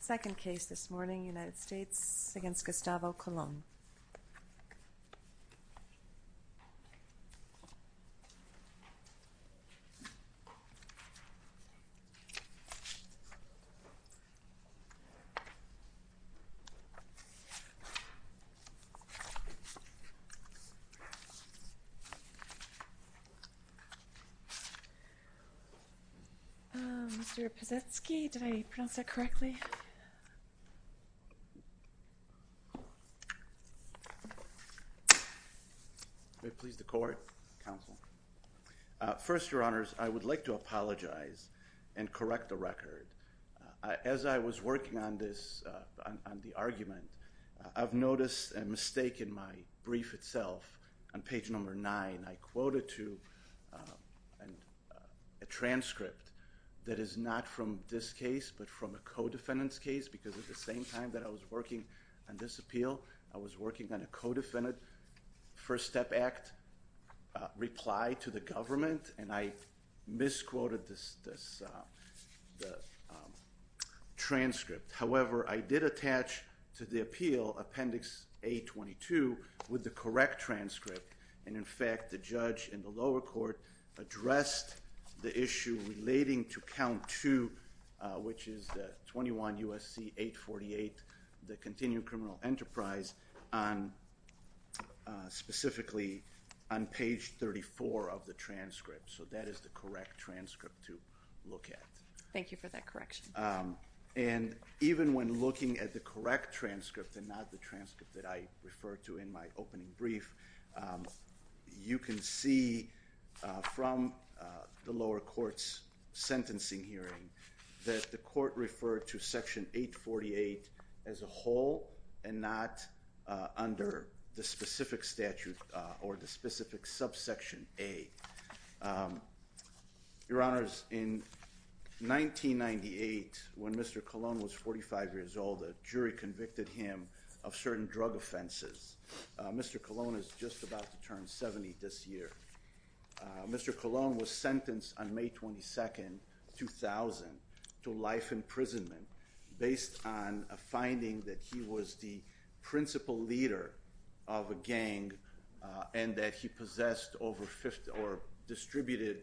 Second case this morning, United States v. Gustavo Colon. Mr. Posetsky, did I pronounce that correctly? First, your honors, I would like to apologize and correct the record. As I was working on this, on the argument, I've noticed a mistake in my brief itself. On page number 9, I quoted to a transcript that is not from this case, but from a co-defendant's case because at the same time that I was working on this appeal, I was working on a co-defendant first step act reply to the government, and I misquoted this transcript. However, I did attach to the appeal appendix A-22 with the correct transcript, and in fact, the judge in the lower court addressed the issue relating to count 2, which is the 21 U.S.C. 848, the continued criminal enterprise, specifically on page 34 of the transcript. So that is the correct transcript to look at. Thank you for that correction. And even when looking at the correct transcript and not the transcript that I referred to in my opening brief, you can see from the lower court's sentencing hearing that the court referred to section 848 as a whole and not under the specific statute or the specific subsection A. Your Honors, in 1998, when Mr. Colon was 45 years old, a jury convicted him of certain drug offenses. Mr. Colon is just about to turn 70 this year. Mr. Colon was sentenced on May 22, 2000, to life imprisonment based on a finding that he was the principal leader of a gang and that he possessed or distributed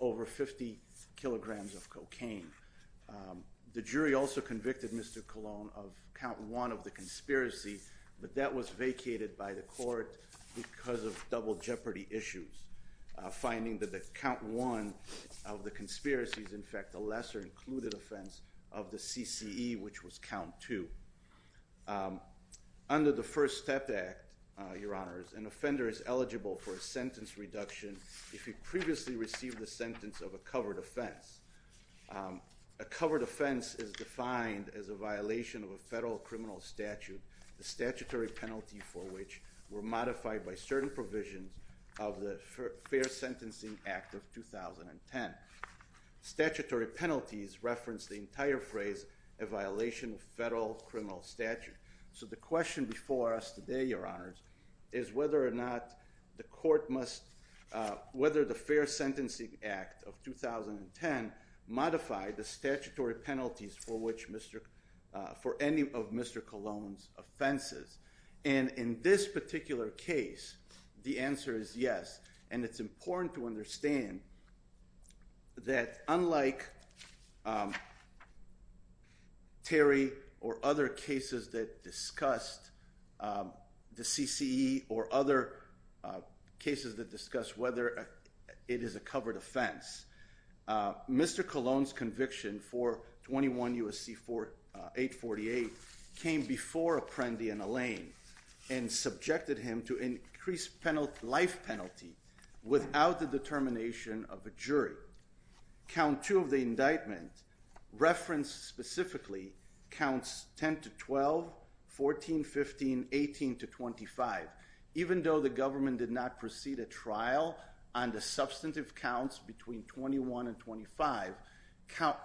over 50 kilograms of cocaine. The jury also convicted Mr. Colon of count 1 of the conspiracy, but that was vacated by the court because of double jeopardy issues, finding that the count 1 of the conspiracy is, in fact, a lesser included offense of the CCE, which was count 2. Under the First Step Act, Your Honors, an offender is eligible for a sentence reduction if he previously received the sentence of a covered offense. A covered offense is defined as a violation of a federal criminal statute, the statutory penalty for which were modified by certain provisions of the Fair Sentencing Act of 2010. Statutory penalties reference the entire phrase a violation of federal criminal statute. So the question before us today, Your Honors, is whether or not the court must, whether the Fair Sentencing Act of 2010 modified the statutory penalties for which Mr., for any of Mr. Colon's offenses. And in this particular case, the answer is yes. And it's important to understand that unlike Terry or other cases that discussed the CCE or other cases that discuss whether it is a covered offense, Mr. Colon, U.S.C. 848, came before Apprendi and Allain and subjected him to increased life penalty without the determination of a jury. Count 2 of the indictment referenced specifically counts 10 to 12, 14, 15, 18 to 25. Even though the government did not proceed a trial on the substantive counts between 21 and 25, count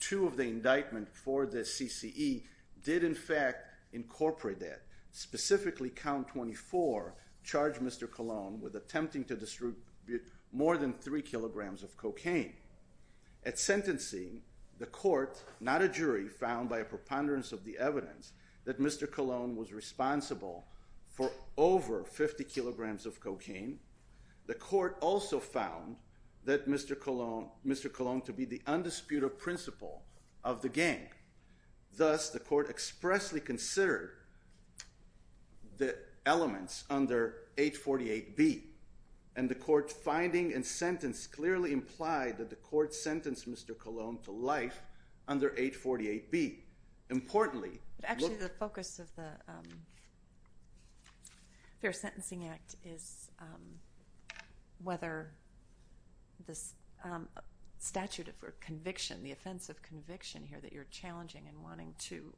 2 of the indictment for the CCE did in fact incorporate that. Specifically, count 24 charged Mr. Colon with attempting to distribute more than 3 kilograms of cocaine. At sentencing, the court, not a jury, found by a preponderance of the evidence that Mr. Colon was responsible for over 50 kilograms of cocaine. The court also found that Mr. Colon to be the undisputed principal of the gang. Thus, the court expressly considered the elements under 848B. And the court's finding and sentence clearly implied that the court sentenced Mr. Colon to life under 848B. Importantly, the focus of the Fair Sentencing Act is whether the statute of conviction, the offense of conviction here that you're challenging and wanting to,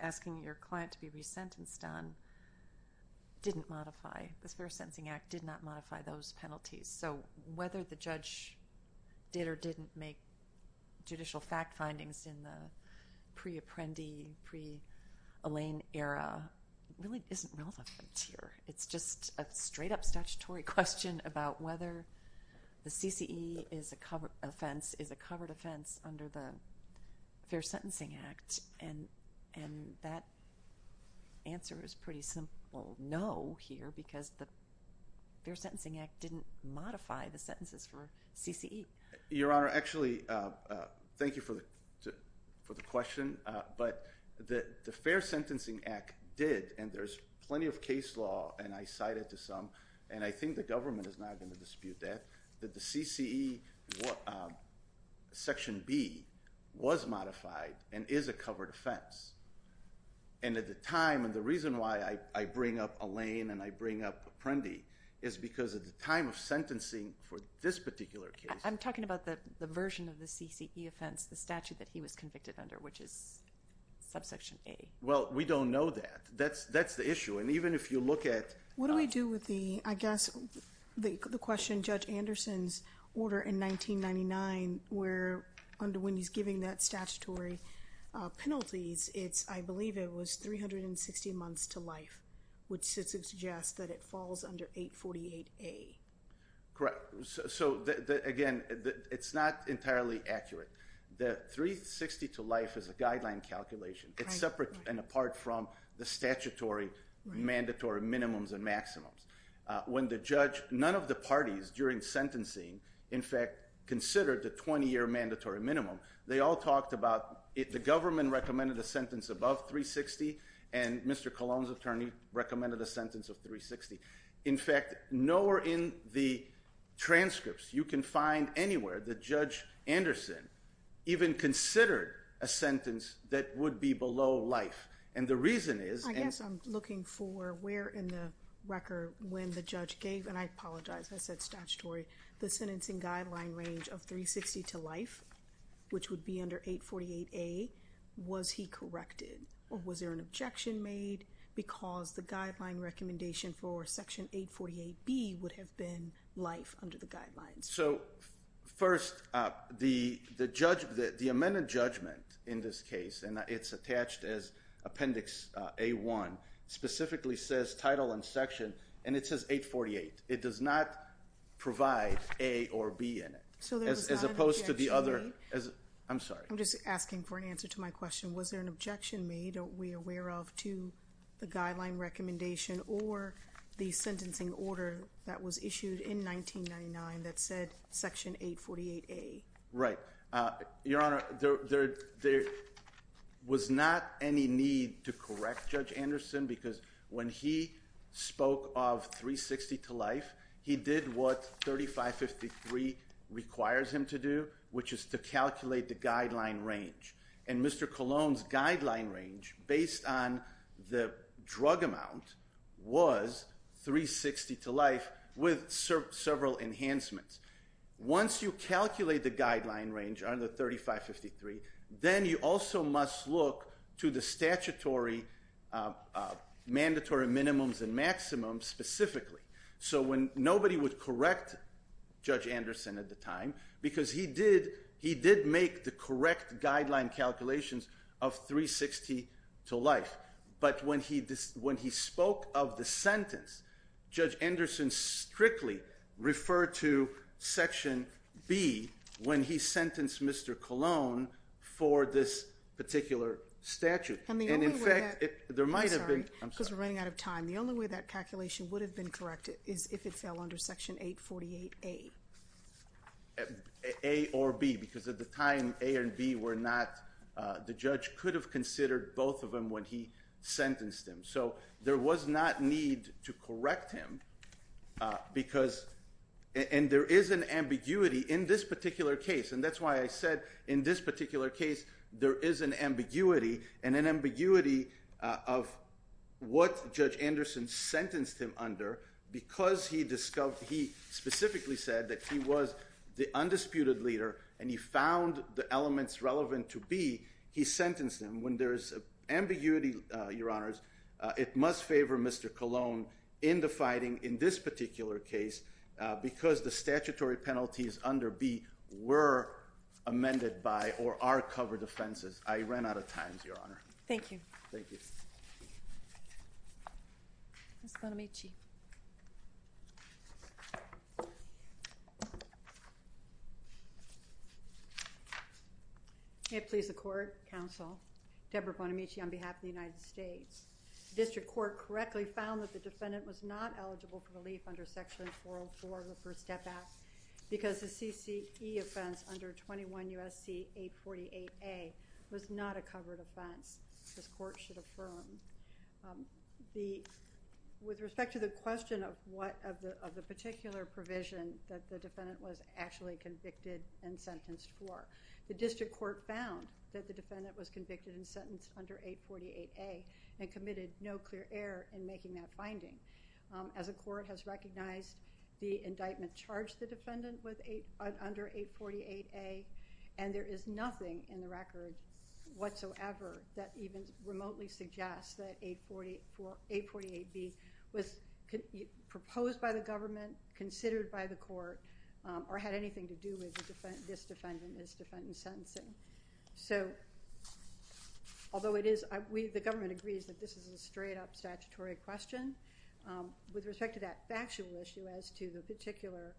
asking your client to be resentenced on, didn't modify. This Fair Sentencing Act did not modify those penalties. So whether the judge did or didn't make judicial fact findings in the pre-Apprendi, pre-Elaine era really isn't relevant here. It's just a straight up statutory question about whether the CCE is a covered offense under the Fair Sentencing Act. And that answer is pretty simple, no, here, because the Fair Sentencing Act didn't modify the sentences for CCE. Your Honor, actually, thank you for the question. But the Fair Sentencing Act did, and there's plenty of case law, and I cited to some, and I think the government is not going to dispute that, that the CCE Section B was modified and is a covered offense. And at the time, and the reason why I bring up Elaine and I bring up Apprendi is because at the time of sentencing for this particular case. I'm talking about the version of the CCE offense, the statute that he was convicted under, which is subsection A. Well, we don't know that. That's the issue. And even if you look at. What do we do with the, I guess, the question, Judge Anderson's order in 1999, where, when he's giving that statutory penalties, it's, I believe it was 360 months to life, which suggests that it falls under 848A. Correct. So, again, it's not entirely accurate. The 360 to life is a guideline calculation. It's separate and apart from the statutory mandatory minimums and maximums. When the judge, none of the parties during sentencing, in fact, considered the 20-year mandatory minimum. They all talked about it. The government recommended a sentence above 360, and Mr. Colon's attorney recommended a sentence of 360. In fact, nowhere in the transcripts you can find anywhere that Judge Anderson even considered a sentence that would be below life. And the reason is. I guess I'm looking for where in the record when the judge gave, and I apologize, I said statutory, the sentencing guideline range of 360 to life, which would be under 848A, was he corrected? Or was there an objection made? Because the guideline recommendation for Section 848B would have been life under the guidelines. So, first, the amendment judgment in this case, and it's attached as Appendix A1, specifically says title and section, and it says 848. It does not provide A or B in it. So there was not an objection made? I'm sorry. I'm just asking for an answer to my question. Was there an objection made, are we aware of, to the guideline recommendation or the sentencing order that was in Section 848A? Right. Your Honor, there was not any need to correct Judge Anderson because when he spoke of 360 to life, he did what 3553 requires him to do, which is to calculate the guideline range. And Mr. Colon's guideline range, based on the drug amount, was 360 to life with several enhancements. Once you calculate the guideline range under 3553, then you also must look to the statutory, mandatory minimums and maximums specifically. So when nobody would correct Judge Anderson at the time, because he did make the correct guideline calculations of 360 to life, but when he spoke of the sentence, Judge Anderson strictly referred to Section B when he sentenced Mr. Colon for this particular statute. And the only way that, I'm sorry, because we're running out of time, the only way that calculation would have been corrected is if it fell under Section 848A. A or B, because at the time A and B were not, the judge could have considered both of them when he sentenced him. So there was not need to correct him because, and there is an ambiguity in this particular case, and that's why I said in this particular case, there is an ambiguity, and an ambiguity of what Judge Anderson sentenced him under because he discovered, he specifically said that he was the undisputed leader, and he found the elements relevant to B, he sentenced him. When there's ambiguity, Your Honors, it must favor Mr. Colon in the fighting in this particular case because the statutory penalties under B were amended by, or are covered offenses. I ran out of time, Your Honor. Thank you. Thank you. Ms. Bonamici. May it please the Court, Counsel, Deborah Bonamici on behalf of the United States. The District Court correctly found that the defendant was not eligible for relief under Section 404 of the First Step Act because the CCE offense under 21 U.S.C. 848A was not a covered offense. This Court should affirm. The, with respect to the question of what, of the particular provision that the defendant was actually convicted and sentenced for, the District Court found that the defendant was convicted and sentenced under 848A and committed no clear error in making that finding. As a court has recognized, the indictment charged the defendant with, under 848A, and there is nothing in the record whatsoever that even remotely suggests that 848B was proposed by the government, considered by the court, or had anything to do with this defendant and his defendant's sentencing. So, although it is, we, the government agrees that this is a straight up statutory question, with respect to that factual issue as to the particular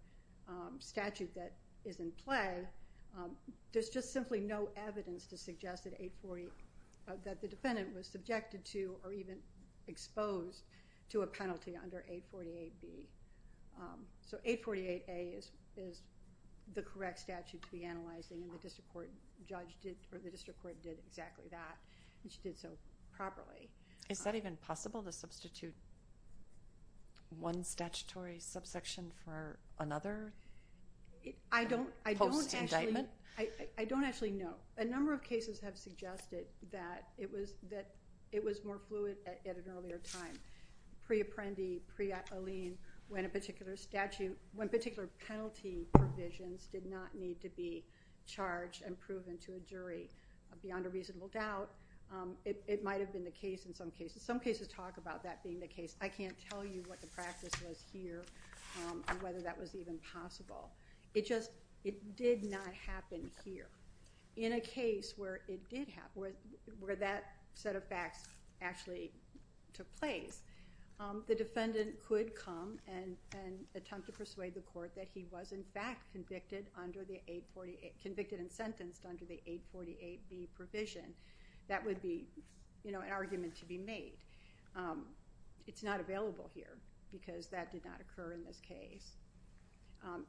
statute that is in play, there's just simply no evidence to suggest that 848, that the defendant was subjected to or even exposed to a penalty under 848B. So, 848A is the correct statute to be analyzing and the District Court judge did, or the District Court did exactly that and she did so properly. Is that even possible to substitute one statutory subsection for another? I don't, I don't actually, I don't actually know. A number of cases have suggested that it was, that it was more fluid at an earlier time. Pre-apprendi, pre-alien, when a particular statute, when particular penalty provisions did not need to be charged and proven to a jury. Beyond a reasonable doubt, it might have been the case in some cases. Some cases talk about that being the case. I can't tell you what the practice was here and whether that was even possible. It just, it did not happen here. In a case where it did happen, where that set of facts actually took place, the defendant could come and attempt to persuade the court that he was in fact convicted under the 848, convicted and sentenced under the 848B provision. That would be, you know, an argument to be made. It's not available here because that did not occur in this case.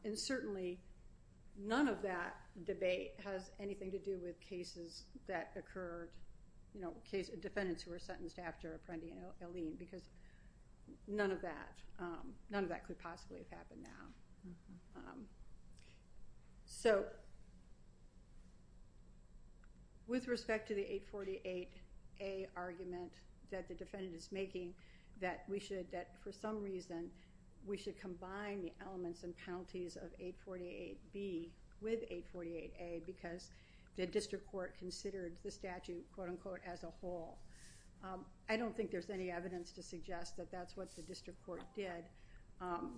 And certainly, none of that debate has anything to do with cases that occurred, you know, defendants who were sentenced after apprendi and alien, because none of that, none of that could possibly have happened now. So, with respect to the 848A argument that the defendant is making, that we should, that for some reason, we should combine the elements and penalties of 848B with 848A because the district court considered the statute, quote-unquote, as a whole. I don't think there's any evidence to suggest that that's what the district court did.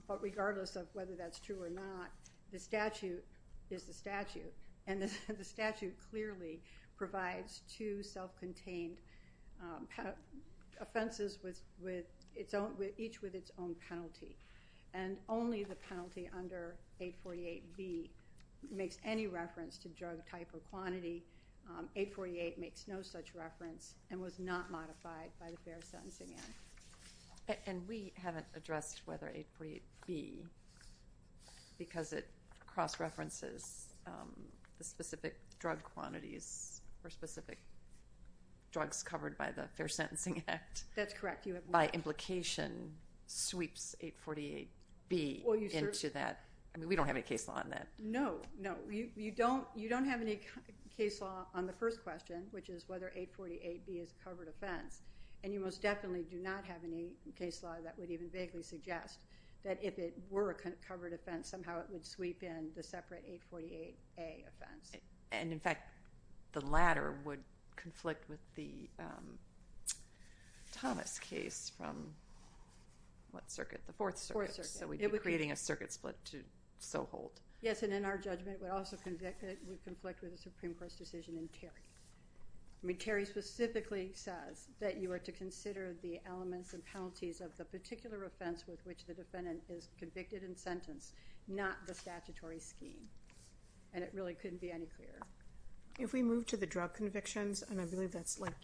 But regardless of whether that's true or not, the statute is the statute. And the statute clearly provides two self-contained offenses with its own, each with its own penalty. And only the penalty under 848B makes any reference to drug type or quantity. 848 makes no such reference and was not modified by the fair sentencing act. And we haven't addressed whether 848B, because it cross-references the specific drug quantities or specific drugs covered by the fair sentencing act. That's correct. By implication, sweeps 848B into that. I mean, we don't have any case law on that. No, no. You don't have any case law on the first question, which is whether 848B is a covered offense. And you most definitely do not have any case law that would even vaguely suggest that if it were a covered offense, somehow it would sweep in the separate 848A offense. And in fact, the latter would conflict with the Thomas case from what circuit? The Fourth Circuit. Fourth Circuit. So we'd be creating a circuit split to so hold. Yes, and in our judgment, it would also conflict with the Supreme Court's decision in Terry. I mean, Terry specifically says that you are to consider the elements and penalties of the particular offense with which the defendant is convicted and sentenced, not the statutory scheme. And it really couldn't be any clearer. If we move to the drug convictions, and I believe that's like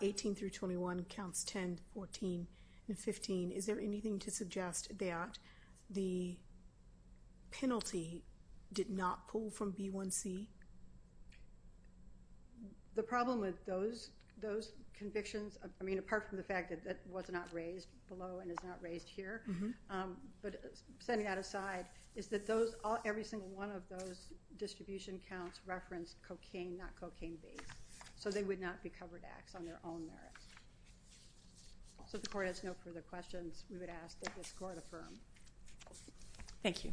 18 through 21 counts 10, 14, and 15, is there anything to suggest that the penalty did not pull from B1C? The problem with those convictions, I mean, apart from the fact that that was not raised below and is not raised here, but setting that aside, is that every single one of those distribution counts referenced cocaine, not cocaine-based. So they would not be covered acts on their own merits. So if the Court has no further questions, we would ask that this Court affirm. Thank you.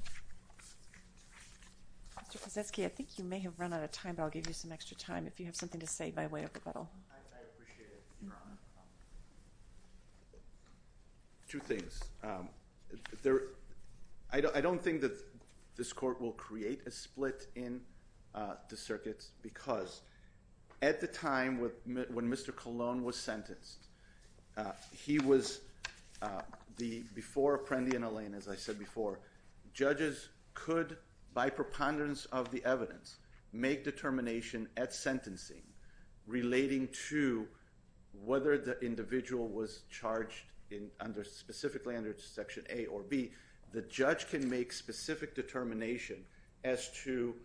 Mr. Kosesky, I think you may have run out of time, but I'll give you some extra time. If you have something to say by way of rebuttal. I appreciate it, Your Honor. Two things. I don't think that this Court will create a split in the circuits because at the time when Mr. Colon was sentenced, he was the, before Apprendi and Elaine, as I said before, judges could, by preponderance of the evidence, make determination at sentencing relating to whether the individual was charged specifically under Section A or B. The judge can make specific determination as to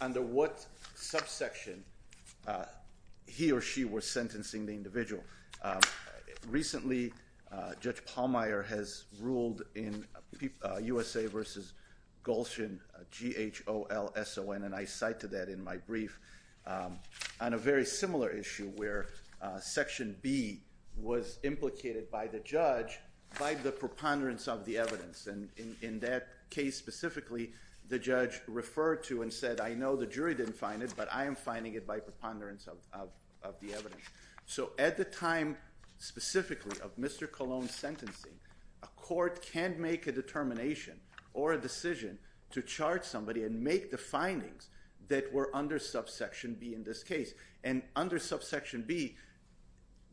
under what subsection he or she was sentencing the individual. Recently, Judge Palmier has ruled in USA v. Golshin, G-H-O-L-S-O-N, and I cite to that in my brief, on a very similar issue where Section B was implicated by the judge by the preponderance of the evidence. In that case specifically, the judge referred to and said, I know the jury didn't find it, but I am finding it by preponderance of the evidence. So at the time specifically of Mr. Colon's sentencing, a court can make a determination or a decision to charge somebody and make the findings that were under subsection B in this case. And under subsection B,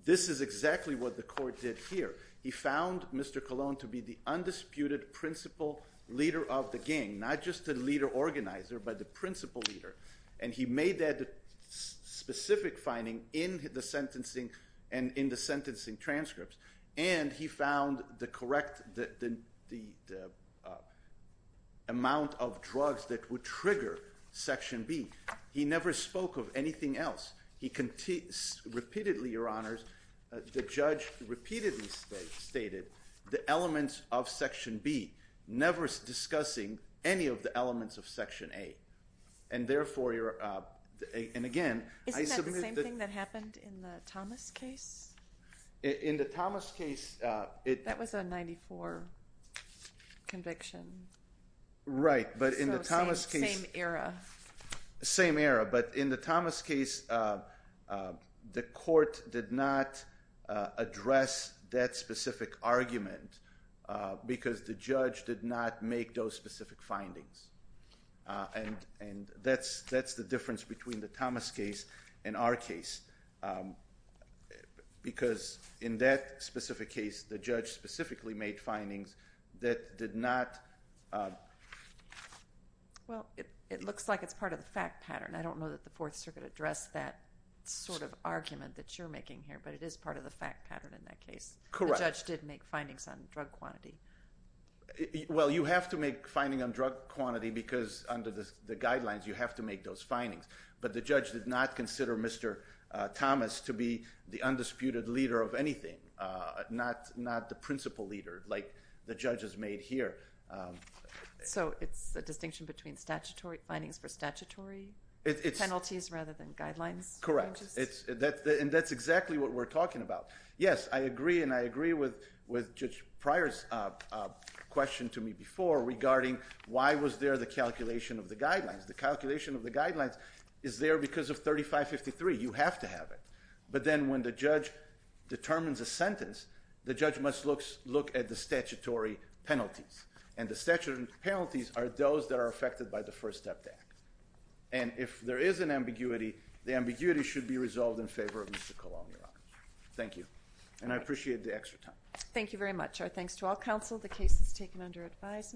this is exactly what the court did here. He found Mr. Colon to be the undisputed principal leader of the gang, not just the leader organizer, but the principal leader. And he made that specific finding in the sentencing and in the sentencing transcripts. And he found the correct, the amount of drugs that would trigger Section B. He never spoke of anything else. He repeatedly, Your Honors, the judge repeatedly stated the elements of Section B, never discussing any of the elements of Section A. And therefore, and again, Isn't that the same thing that happened in the Thomas case? In the Thomas case... That was a 94 conviction. Right, but in the Thomas case... Same era. Same era. But in the Thomas case, the court did not address that specific argument because the judge did not make those specific findings. And that's the difference between the Thomas case and our case. Because in that specific case, the judge specifically made findings that did not... Well, it looks like it's part of the fact pattern. I don't know that the Fourth Circuit addressed that sort of argument that you're making here, but it is part of the fact pattern in that case. Correct. The judge did make findings on drug quantity. Well, you have to make findings on drug quantity because under the guidelines you have to make those findings. But the judge did not consider Mr. Thomas to be the undisputed leader of anything, not the principal leader like the judge has made here. So it's a distinction between findings for statutory penalties rather than guidelines? Correct. And that's exactly what we're talking about. Yes, I agree, and I agree with Judge Pryor's question to me before regarding why was there the calculation of the guidelines. The calculation of the guidelines is there because of 3553. You have to have it. But then when the judge determines a sentence, the judge must look at the statutory penalties. And the statutory penalties are those that are affected by the First Step Act. And if there is an ambiguity, the ambiguity should be resolved in favor of Mr. Colon, Your Honor. Thank you. And I appreciate the extra time. Thank you very much. Our thanks to all counsel. The case is taken under advisement.